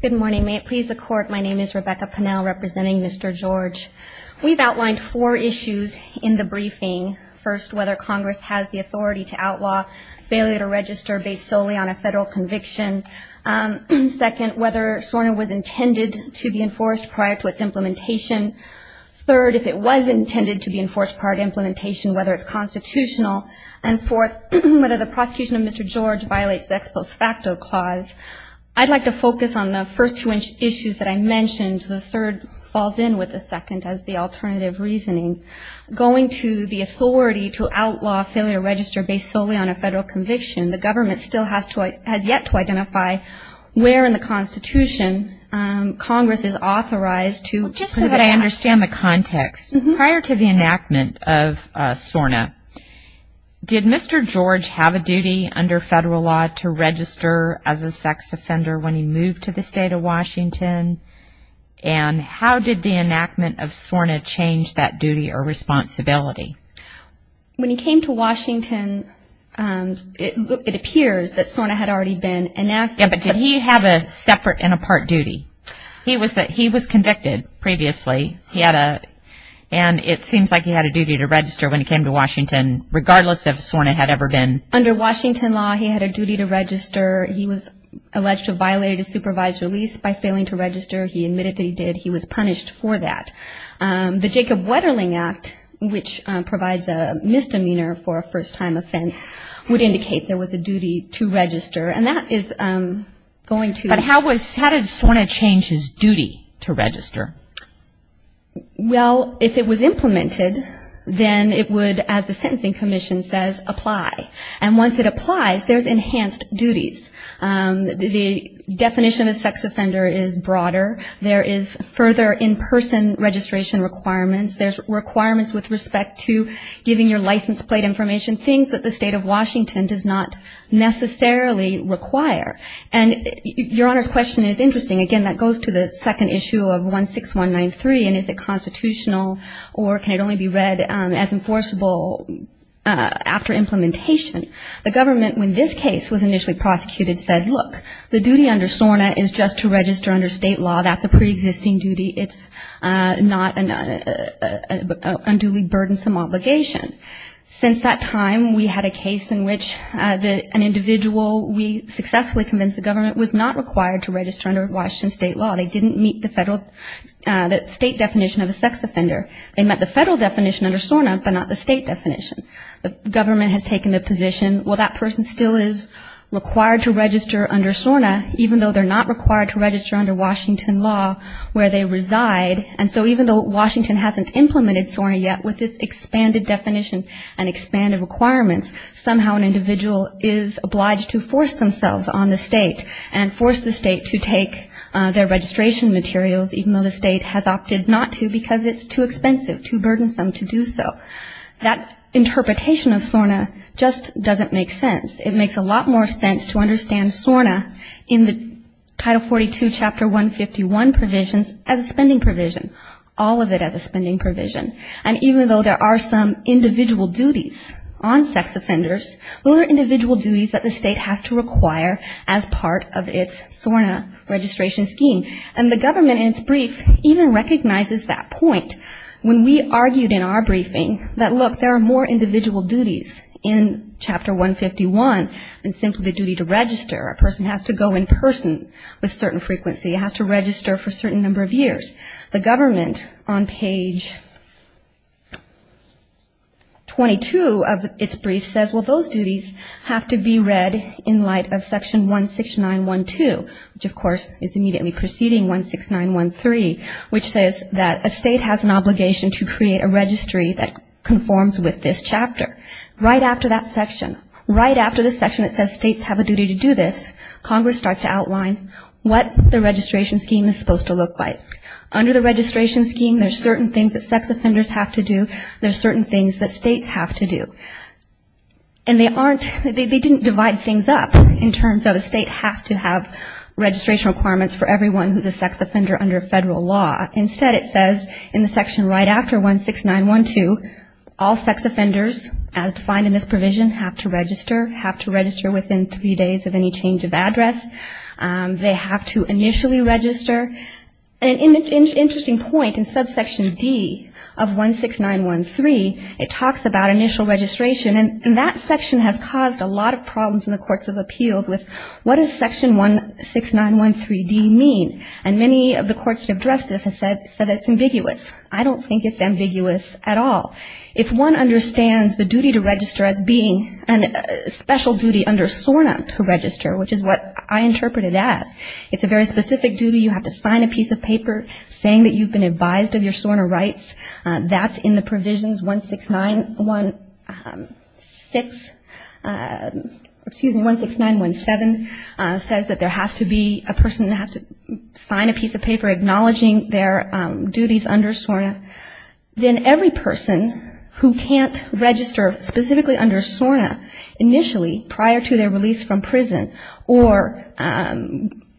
Good morning. May it please the court, my name is Rebecca Pennell representing Mr. George. We've outlined four issues in the briefing. First, whether Congress has the authority to outlaw failure to register based solely on a federal conviction. Second, whether SORNA was intended to be enforced prior to its implementation. Third, if it was intended to be enforced prior to implementation, whether it's constitutional. And fourth, whether the prosecution of Mr. George violates the ex post facto clause. I'd like to focus on the first two issues that I mentioned. The third falls in with the second as the alternative reasoning. Going to the authority to outlaw failure to register based solely on a federal conviction, the government still has yet to identify where in the Constitution Congress is authorized to. Just so that I understand the context, prior to the enactment of SORNA, did Mr. George have a duty under federal law to register as a sex offender when he moved to the state of Washington? And how did the enactment of SORNA change that duty or responsibility? When he came to Washington, it appears that SORNA had already been enacted. Yeah, but did he have a separate and a part duty? He was convicted previously. And it seems like he had a duty to register when he came to Washington, regardless if SORNA had ever been. Under Washington law, he had a duty to register. He was alleged to have violated a supervised release by failing to register. He admitted that he did. He was punished for that. The Jacob Wetterling Act, which provides a misdemeanor for a first-time offense, would indicate there was a duty to register. But how did SORNA change his duty to register? Well, if it was implemented, then it would, as the Sentencing Commission says, apply. And once it applies, there's enhanced duties. The definition of a sex offender is broader. There is further in-person registration requirements. There's requirements with respect to giving your license plate information, things that the state of Washington does not necessarily require. And Your Honor's question is interesting. Again, that goes to the second issue of 16193, and is it constitutional or can it only be read as enforceable after implementation? The government, when this case was initially prosecuted, said, look, the duty under SORNA is just to register under state law. That's a preexisting duty. It's not an unduly burdensome obligation. Since that time, we had a case in which an individual, we successfully convinced the government, was not required to register under Washington state law. They didn't meet the state definition of a sex offender. They met the federal definition under SORNA but not the state definition. The government has taken the position, well, that person still is required to register under SORNA, even though they're not required to register under Washington law where they reside. And so even though Washington hasn't implemented SORNA yet, with this expanded definition and expanded requirements, somehow an individual is obliged to force themselves on the state and force the state to take their registration materials, even though the state has opted not to because it's too expensive, too burdensome to do so. That interpretation of SORNA just doesn't make sense. It makes a lot more sense to understand SORNA in the Title 42, Chapter 151 provisions as a spending provision, all of it as a spending provision. And even though there are some individual duties on sex offenders, those are individual duties that the state has to require as part of its SORNA registration scheme. And the government in its brief even recognizes that point. When we argued in our briefing that, look, there are more individual duties in Chapter 151 than simply the duty to register. A person has to go in person with certain frequency. It has to register for a certain number of years. The government on page 22 of its brief says, well, those duties have to be read in light of Section 16912, which of course is immediately preceding 16913, which says that a state has an obligation to create a registry that conforms with this chapter. Right after that section, right after the section that says states have a duty to do this, Congress starts to outline what the registration scheme is supposed to look like. Under the registration scheme, there are certain things that sex offenders have to do. There are certain things that states have to do. And they didn't divide things up in terms of a state has to have registration requirements for everyone who is a sex offender under federal law. Instead, it says in the section right after 16912, all sex offenders as defined in this provision have to register, have to register within three days of any change of address. They have to initially register. An interesting point in subsection D of 16913, it talks about initial registration. And that section has caused a lot of problems in the courts of appeals with what does Section 16913D mean. And many of the courts that have addressed this have said it's ambiguous. I don't think it's ambiguous at all. If one understands the duty to register as being a special duty under SORNA to register, which is what I interpret it as, it's a very specific duty. You have to sign a piece of paper saying that you've been advised of your SORNA rights. That's in the provisions 16916, excuse me, 16917, says that there has to be a person that has to sign a piece of paper acknowledging their duties under SORNA. Then every person who can't register specifically under SORNA initially prior to their release from prison or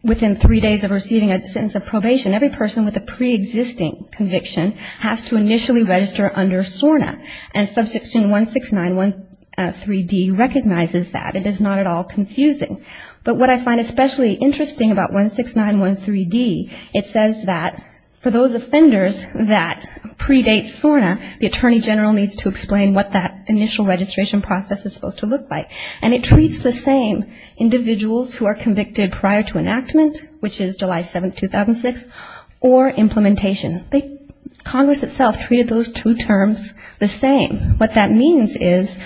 within three days of receiving a sentence of probation, every person with a preexisting conviction has to initially register under SORNA. And subsection 16913D recognizes that. It is not at all confusing. But what I find especially interesting about 16913D, it says that for those offenders that predate SORNA, the attorney general needs to explain what that initial registration process is supposed to look like. And it treats the same individuals who are convicted prior to enactment, which is July 7, 2006, or implementation. Congress itself treated those two terms the same. What that means is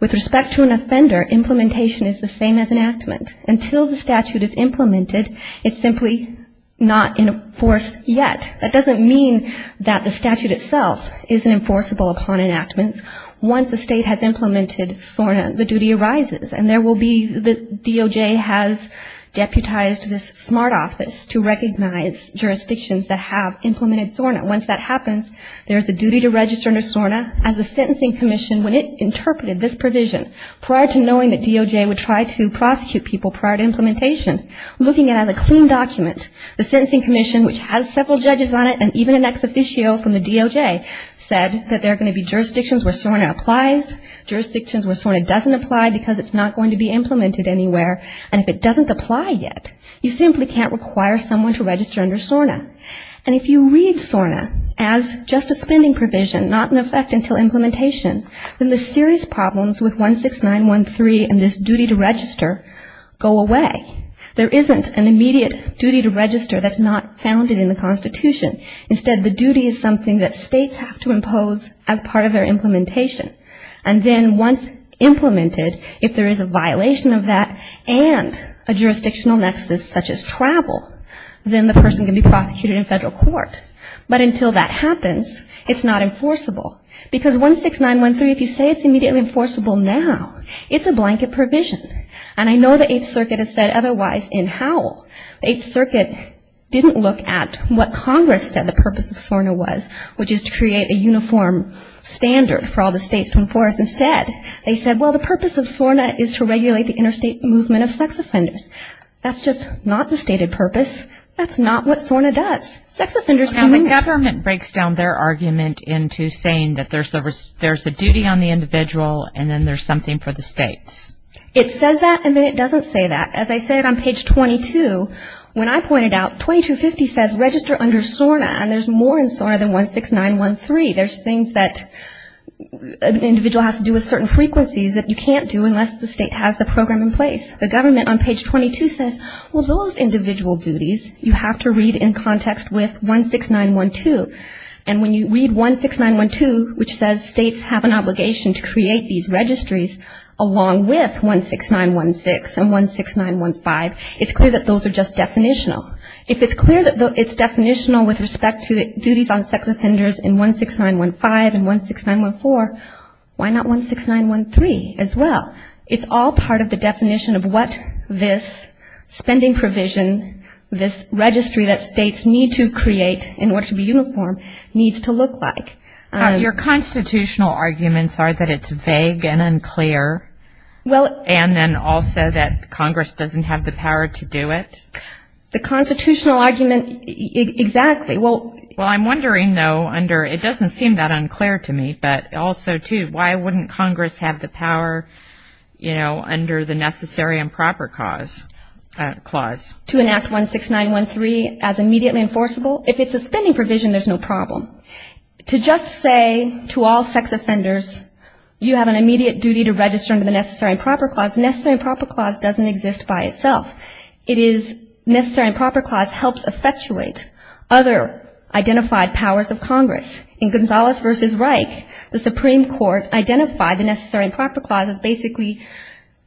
with respect to an offender, implementation is the same as enactment. Until the statute is implemented, it's simply not enforced yet. That doesn't mean that the statute itself isn't enforceable upon enactment. Once the state has implemented SORNA, the duty arises. And there will be the DOJ has deputized this smart office to recognize jurisdictions that have implemented SORNA. Once that happens, there is a duty to register under SORNA as a sentencing commission when it interpreted this provision prior to knowing that DOJ would try to prosecute people prior to implementation, looking at it as a clean document. The sentencing commission, which has several judges on it, and even an ex officio from the DOJ said that there are going to be jurisdictions where SORNA applies, jurisdictions where SORNA doesn't apply because it's not going to be implemented anywhere, and if it doesn't apply yet, you simply can't require someone to register under SORNA. And if you read SORNA as just a spending provision, not in effect until implementation, then the serious problems with 16913 and this duty to register go away. There isn't an immediate duty to register that's not founded in the Constitution. Instead, the duty is something that states have to impose as part of their implementation. And then once implemented, if there is a violation of that and a jurisdictional nexus such as travel, then the person can be prosecuted in federal court. But until that happens, it's not enforceable. Because 16913, if you say it's immediately enforceable now, it's a blanket provision. And I know the Eighth Circuit has said otherwise in Howell. The Eighth Circuit didn't look at what Congress said the purpose of SORNA was, which is to create a uniform standard for all the states to enforce. Instead, they said, well, the purpose of SORNA is to regulate the interstate movement of sex offenders. That's just not the stated purpose. That's not what SORNA does. Sex offenders can move. Now, the government breaks down their argument into saying that there's a duty on the individual and then there's something for the states. It says that and then it doesn't say that. As I said on page 22, when I pointed out, 2250 says register under SORNA, and there's more in SORNA than 16913. There's things that an individual has to do with certain frequencies that you can't do unless the state has the program in place. The government on page 22 says, well, those individual duties you have to read in context with 16912. And when you read 16912, which says states have an obligation to create these registries along with 16916 and 16915, it's clear that those are just definitional. If it's clear that it's definitional with respect to duties on sex offenders in 16915 and 16914, why not 16913 as well? It's all part of the definition of what this spending provision, this registry that states need to create in order to be uniform, needs to look like. Your constitutional arguments are that it's vague and unclear. And then also that Congress doesn't have the power to do it. The constitutional argument, exactly. Well, I'm wondering, though, under it doesn't seem that unclear to me, but also, too, why wouldn't Congress have the power, you know, under the Necessary and Proper Clause? To enact 16913 as immediately enforceable? If it's a spending provision, there's no problem. To just say to all sex offenders, you have an immediate duty to register under the Necessary and Proper Clause, Necessary and Proper Clause doesn't exist by itself. It is Necessary and Proper Clause helps effectuate other identified powers of Congress. In Gonzalez v. Reich, the Supreme Court identified the Necessary and Proper Clause as basically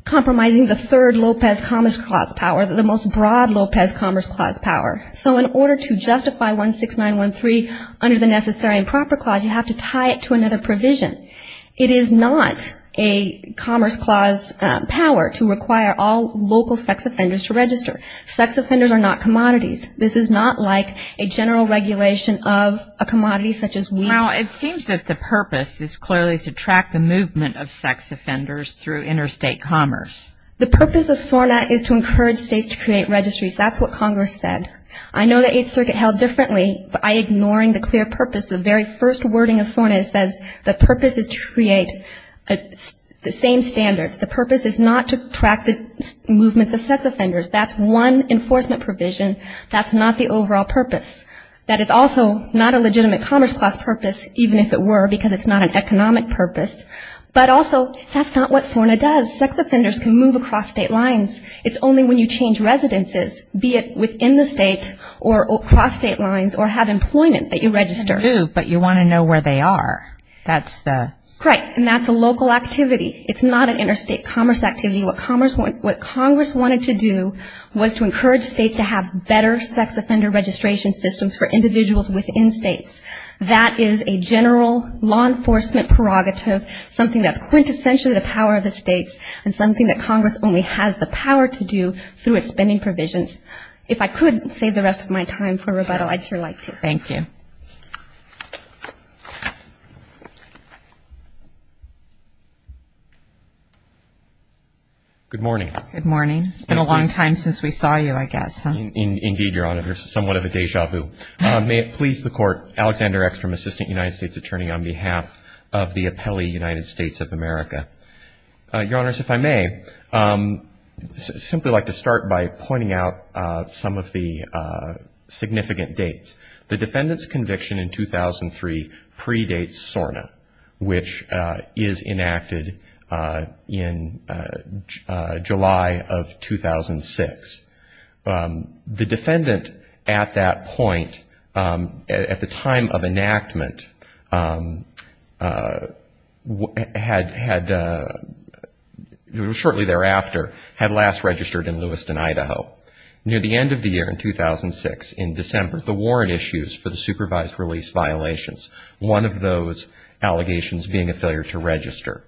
compromising the third Lopez Commerce Clause power, the most broad Lopez Commerce Clause power. So in order to justify 16913 under the Necessary and Proper Clause, you have to tie it to another provision. It is not a Commerce Clause power to require all local sex offenders to register. Sex offenders are not commodities. This is not like a general regulation of a commodity such as wheat. Well, it seems that the purpose is clearly to track the movement of sex offenders through interstate commerce. The purpose of SORNA is to encourage states to create registries. That's what Congress said. I know the Eighth Circuit held differently by ignoring the clear purpose. The very first wording of SORNA says the purpose is to create the same standards. The purpose is not to track the movement of sex offenders. That's one enforcement provision. That's not the overall purpose. That is also not a legitimate Commerce Clause purpose, even if it were, because it's not an economic purpose. But also that's not what SORNA does. Sex offenders can move across state lines. It's only when you change residences, be it within the state or across state lines or have employment that you register. But you want to know where they are. That's the... Right. And that's a local activity. It's not an interstate commerce activity. What Congress wanted to do was to encourage states to have better sex offender registration systems for individuals within states. That is a general law enforcement prerogative, something that's quintessentially the power of the states and something that Congress only has the power to do through its spending provisions. If I could save the rest of my time for rebuttal, I'd sure like to. Thank you. Good morning. Good morning. It's been a long time since we saw you, I guess. Indeed, Your Honor, somewhat of a deja vu. May it please the Court, Alexander X from Assistant United States Attorney on behalf of the appellee United States of America. Your Honors, if I may, I'd simply like to start by pointing out some of the significant dates. The defendant's conviction in 2003 predates SORNA, which is enacted in July of 2006. The defendant at that point, at the time of enactment, shortly thereafter, had last registered in Lewiston, Idaho. Near the end of the year in 2006, in December, the warrant issues for the supervised release violations, one of those allegations being a failure to register.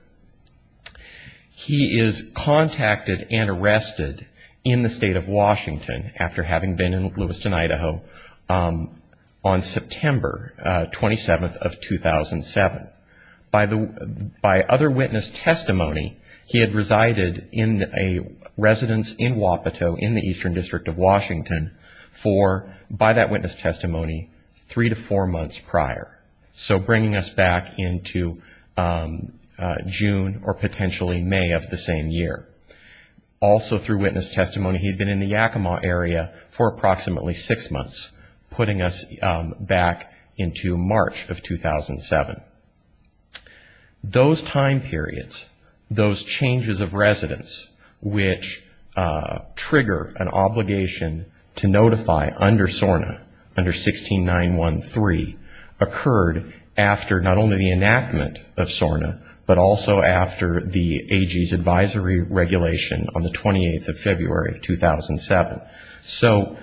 He is contacted and arrested in the state of Washington after having been in Lewiston, Idaho on September 27th of 2007. By other witness testimony, he had resided in a residence in Wapato in the Eastern District of Washington for, by that witness testimony, three to four months prior. That was in June or potentially May of the same year. Also through witness testimony, he had been in the Yakima area for approximately six months, putting us back into March of 2007. Those time periods, those changes of residence, which trigger an obligation to notify under SORNA, under 16913, occurred after not only the enactment of SORNA, but also after the AG's advisory regulation on the 28th of February of 2007. So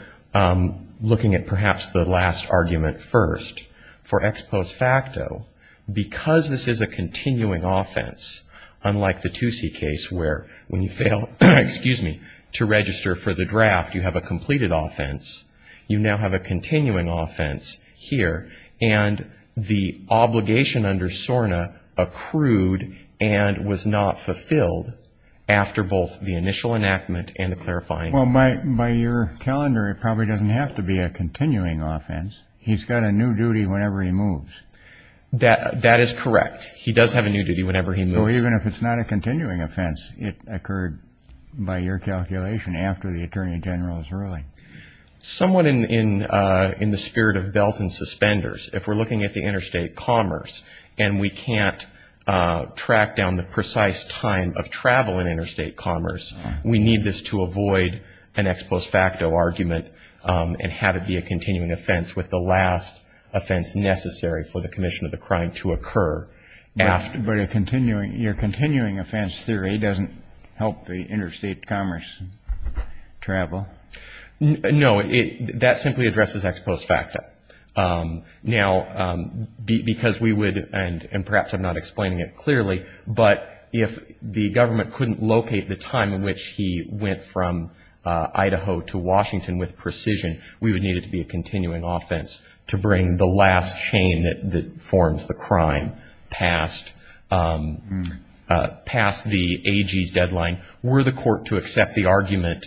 looking at perhaps the last argument first, for ex post facto, because this is a continuing offense, unlike the Toosie case where when you fail, excuse me, to register for the draft, you have a completed offense, you now have a continuing offense here. And the obligation under SORNA accrued and was not fulfilled after both the initial enactment and the clarifying. Well, by your calendar, it probably doesn't have to be a continuing offense. He's got a new duty whenever he moves. That is correct. He does have a new duty whenever he moves. So even if it's not a continuing offense, it occurred by your calculation after the Attorney General's ruling? Somewhat in the spirit of belt and suspenders. If we're looking at the interstate commerce and we can't track down the precise time of travel in interstate commerce, we need this to avoid an ex post facto argument and have it be a continuing offense with the last offense necessary for the commission of the crime to occur. But your continuing offense theory doesn't help the interstate commerce travel? No. That simply addresses ex post facto. Now, because we would, and perhaps I'm not explaining it clearly, but if the government couldn't locate the time in which he went from Idaho to Washington with precision, we would need it to be a continuing offense to bring the last chain that forms the crime past the AG's deadline. We're the court to accept the argument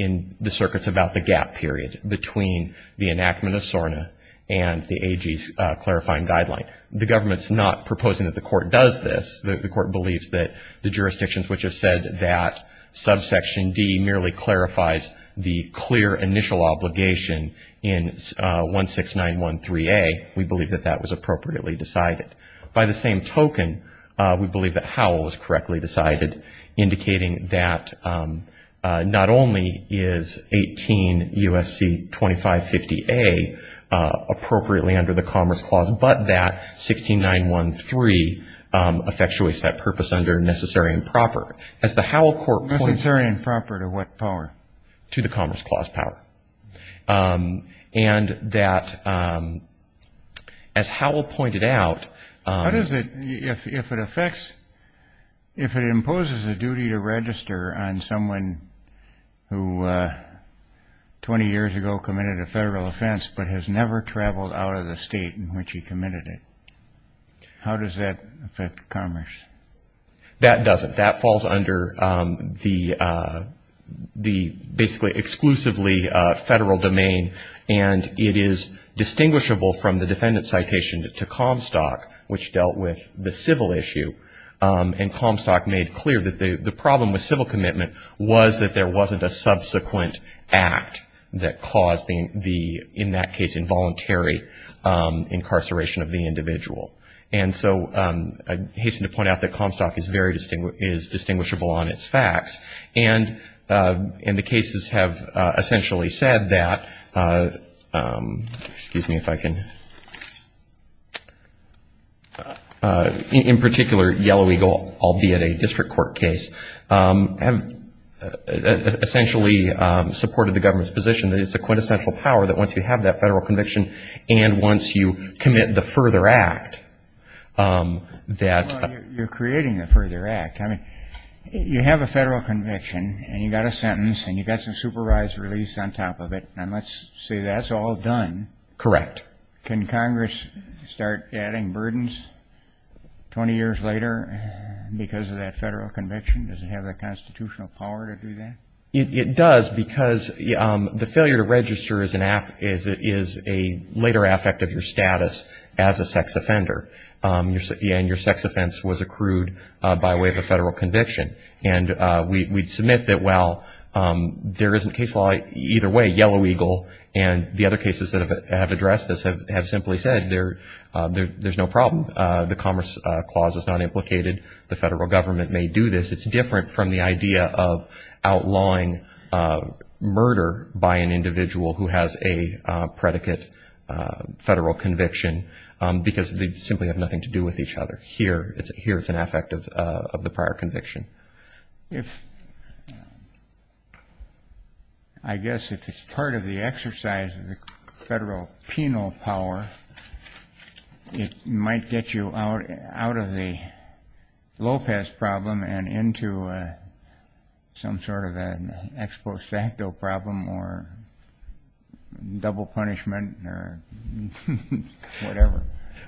in the circuits about the gap period between the enactment of SORNA and the AG's clarifying guideline. The government's not proposing that the court does this. The court believes that the jurisdictions which have said that subsection D merely clarifies the clear initial obligation in 16913A, we believe that that was appropriately decided. By the same token, we believe that Howell was correctly decided, indicating that not only is 18 U.S.C. 2550A appropriately under the Commerce Clause, but that 16913 effectuates that purpose under necessary and proper. Necessary and proper to what power? To the Commerce Clause power. And that, as Howell pointed out... How does it, if it affects, if it imposes a duty to register on someone who 20 years ago committed a federal offense, but has never traveled out of the state in which he committed it, how does that affect commerce? That doesn't. That falls under the basically exclusively federal domain, and it is distinguishable from the defendant's citation to Comstock, which dealt with the civil issue, and Comstock made clear that the problem with civil commitment was that there wasn't a subsequent act that caused the, in that case, involuntary incarceration of the individual. And so I hasten to point out that Comstock is very, is distinguishable on its facts, and the cases have essentially said that, excuse me if I can, in particular, Yellow Eagle, albeit a district court case, have essentially supported the government's position that it's a quintessential power that once you have that federal conviction, and once you commit the further act, that... Well, you're creating the further act. I mean, you have a federal conviction, and you've got a sentence, and you've got some supervised release on top of it, and let's say that's all done. Can Congress start adding burdens 20 years later because of that federal conviction? Does it have the constitutional power to do that? It does, because the failure to register is a later affect of your status as a sex offender, and your sex offense was accrued by way of a federal conviction, and we'd submit that, well, there isn't case law either way, Yellow Eagle, and the other cases that have addressed this, have simply said there's no problem. The Commerce Clause is not implicated. The federal government may do this. It's different from the idea of outlawing murder by an individual who has a predicate federal conviction, because they simply have nothing to do with each other. Here, it's an affect of the prior conviction. I guess if it's part of the exercise of the federal penal power, it might get you out of the Lopez problem and into a... some sort of an ex post facto problem or double punishment or whatever.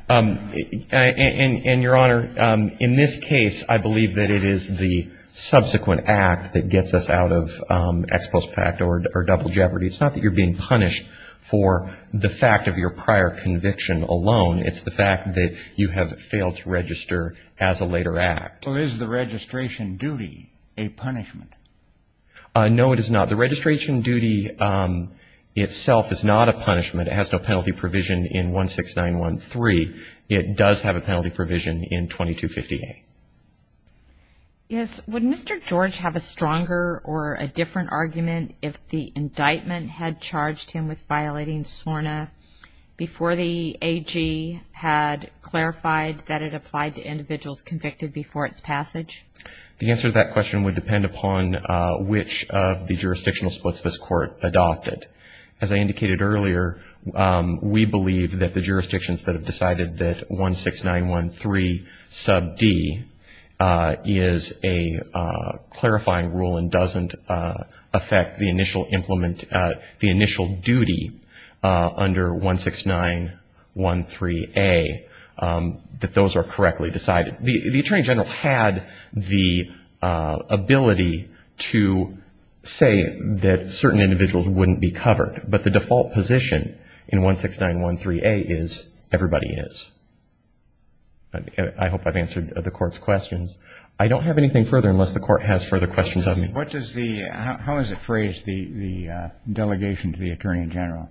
And, Your Honor, in this case, I believe that it is the subsequent act that gets us out of ex post facto or double jeopardy. It's not that you're being punished for the fact of your prior conviction alone. It's the fact that you have failed to register as a later act. So is the registration duty a punishment? No, it is not. The registration duty itself is not a punishment. It has no penalty provision in 16913. It does have a penalty provision in 2258. Yes. Would Mr. George have a stronger or a different argument if the indictment had charged him with violating SORNA before the AG had clarified that it applied to individuals convicted before its passage? The answer to that question would depend upon which of the jurisdictional splits this Court adopted. As I indicated earlier, we believe that the jurisdictions that have decided that 16913 sub D is a clarifying rule and doesn't affect the initial duty under 16913A. I don't think that those are correctly decided. The Attorney General had the ability to say that certain individuals wouldn't be covered. But the default position in 16913A is everybody is. I hope I've answered the Court's questions. I don't have anything further unless the Court has further questions of me. What does the, how is it phrased, the delegation to the Attorney General?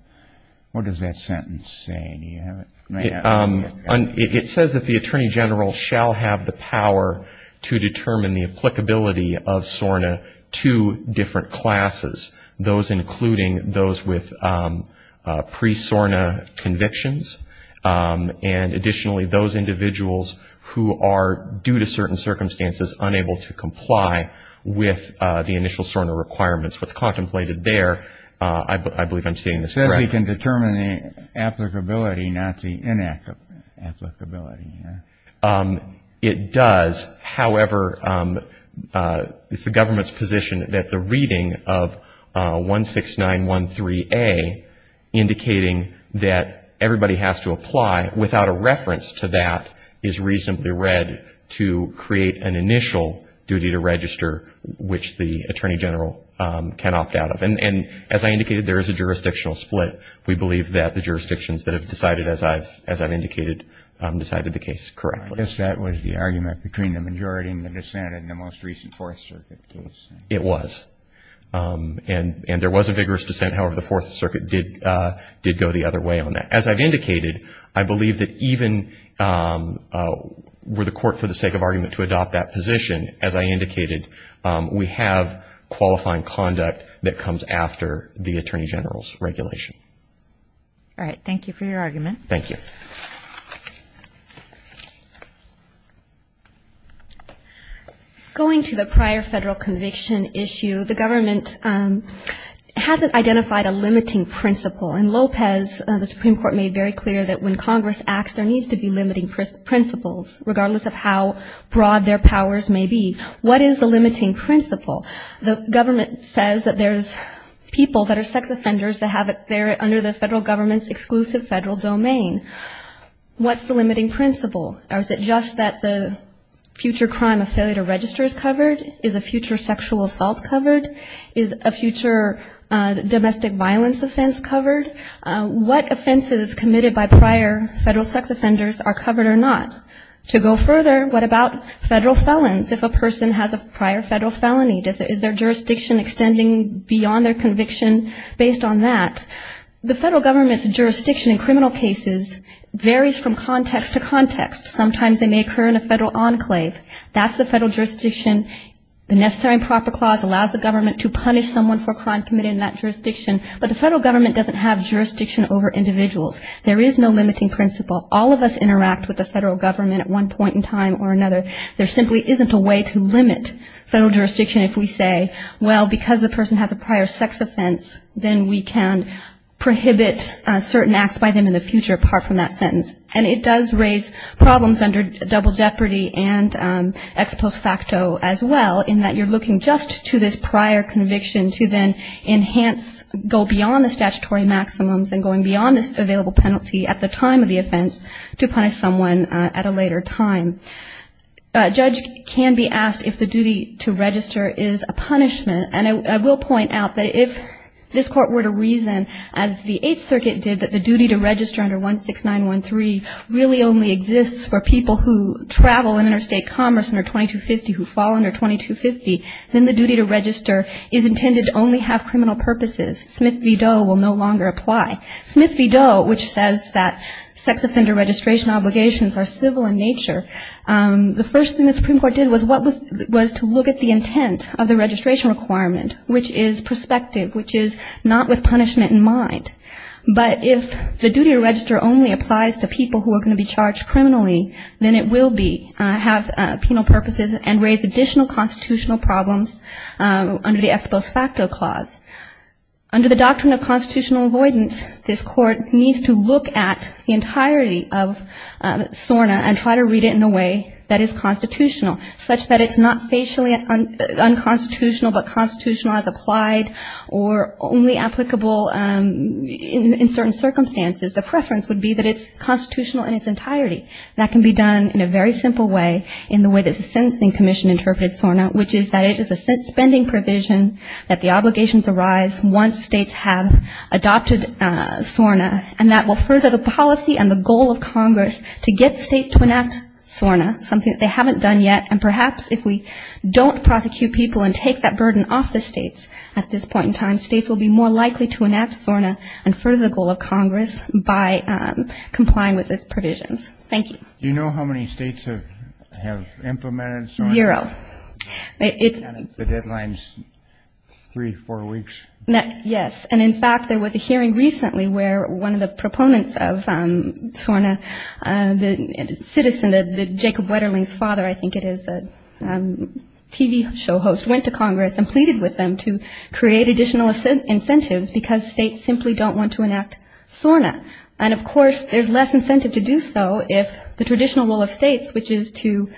What does that sentence say? It says that the Attorney General shall have the power to determine the applicability of SORNA to different classes, those including those with pre-SORNA convictions, and additionally those individuals who are, due to certain circumstances, unable to comply with the initial SORNA requirements. What's contemplated there, I believe I'm stating this correctly. It does, however, it's the government's position that the reading of 16913A, indicating that everybody has to apply without a reference to that, is reasonably read to create an initial duty to register, which the Attorney General can opt out of. And as I indicated, there is a jurisdictional split. We believe that the jurisdictions that have decided, as I've indicated, decided the case correctly. I guess that was the argument between the majority and the dissent in the most recent Fourth Circuit case. It was. And there was a vigorous dissent. However, the Fourth Circuit did go the other way on that. As I've indicated, I believe that even were the Court, for the sake of argument, to adopt that position, as I indicated, we have qualifying conduct that comes after the Attorney General's regulation. All right. Thank you for your argument. Going to the prior federal conviction issue, the government hasn't identified a limiting principle. And Lopez, the Supreme Court, made very clear that when Congress acts, there needs to be limiting principles, regardless of how broad their powers may be. What is the limiting principle? The government says that there's people that are sex offenders that have it there under the federal government's exclusive federal domain. What's the limiting principle? Or is it just that the future crime of failure to register is covered? Is a future sexual assault covered? Is a future domestic violence offense covered? What offenses committed by prior federal sex offenders are covered or not? To go further, what about federal felons? If a person has a prior federal felony, is their jurisdiction extending beyond their conviction based on that? The federal government's jurisdiction in criminal cases varies from context to context. Sometimes they may occur in a federal enclave. That's the federal jurisdiction. The Necessary and Proper Clause allows the government to punish someone for a crime committed in that jurisdiction. But the federal government doesn't have jurisdiction over individuals. The federal government, at one point in time or another, there simply isn't a way to limit federal jurisdiction if we say, well, because the person has a prior sex offense, then we can prohibit certain acts by them in the future, apart from that sentence. And it does raise problems under double jeopardy and ex post facto as well, in that you're looking just to this prior conviction to then enhance, go beyond the statutory maximums and going beyond this available penalty at the time of the offense to punish someone at a later time. A judge can be asked if the duty to register is a punishment. And I will point out that if this Court were to reason, as the Eighth Circuit did, that the duty to register under 16913 really only exists for people who travel in interstate commerce under 2250, who fall under 2250, then the duty to register is intended to only have criminal purposes. Smith v. Doe will no longer apply. And so this Court has to look at the intent of the registration requirement, which is perspective, which is not with punishment in mind. But if the duty to register only applies to people who are going to be charged criminally, then it will be, have penal purposes and raise additional constitutional problems under the ex post facto clause. Under the doctrine of constitutional avoidance, this Court needs to look at the entirety of SORNA and try to find a way to reduce the penalty, and try to read it in a way that is constitutional, such that it's not facially unconstitutional, but constitutional as applied, or only applicable in certain circumstances. The preference would be that it's constitutional in its entirety. That can be done in a very simple way, in the way that the Sentencing Commission interpreted SORNA, which is that it is a set spending provision, that the obligations arise once states have adopted SORNA, and that will further the policy and the goal of Congress to get SORNA, something that they haven't done yet, and perhaps if we don't prosecute people and take that burden off the states at this point in time, states will be more likely to enact SORNA and further the goal of Congress by complying with its provisions. Thank you. You know how many states have implemented SORNA? Zero. The deadline's three, four weeks. Yes, and in fact, there was a hearing recently where one of the proponents of SORNA, the citizen, Jacob Wetterling's father, I think it is, the TV show host, went to Congress and pleaded with them to create additional incentives, because states simply don't want to enact SORNA. And of course, there's less incentive to do so if the traditional role of states, which is to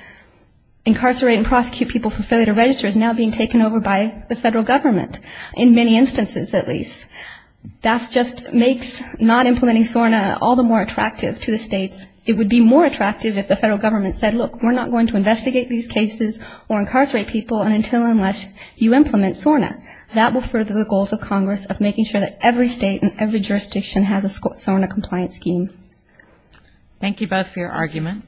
incarcerate and prosecute people and fulfill their registers, is now being taken over by the federal government, in many instances at least. That just makes not implementing SORNA all the more attractive to the states. It would be more attractive if the federal government said, look, we're not going to investigate these cases or incarcerate people until and unless you implement SORNA. That will further the goals of Congress of making sure that every state and every jurisdiction has a SORNA-compliant scheme. Thank you both for your argument.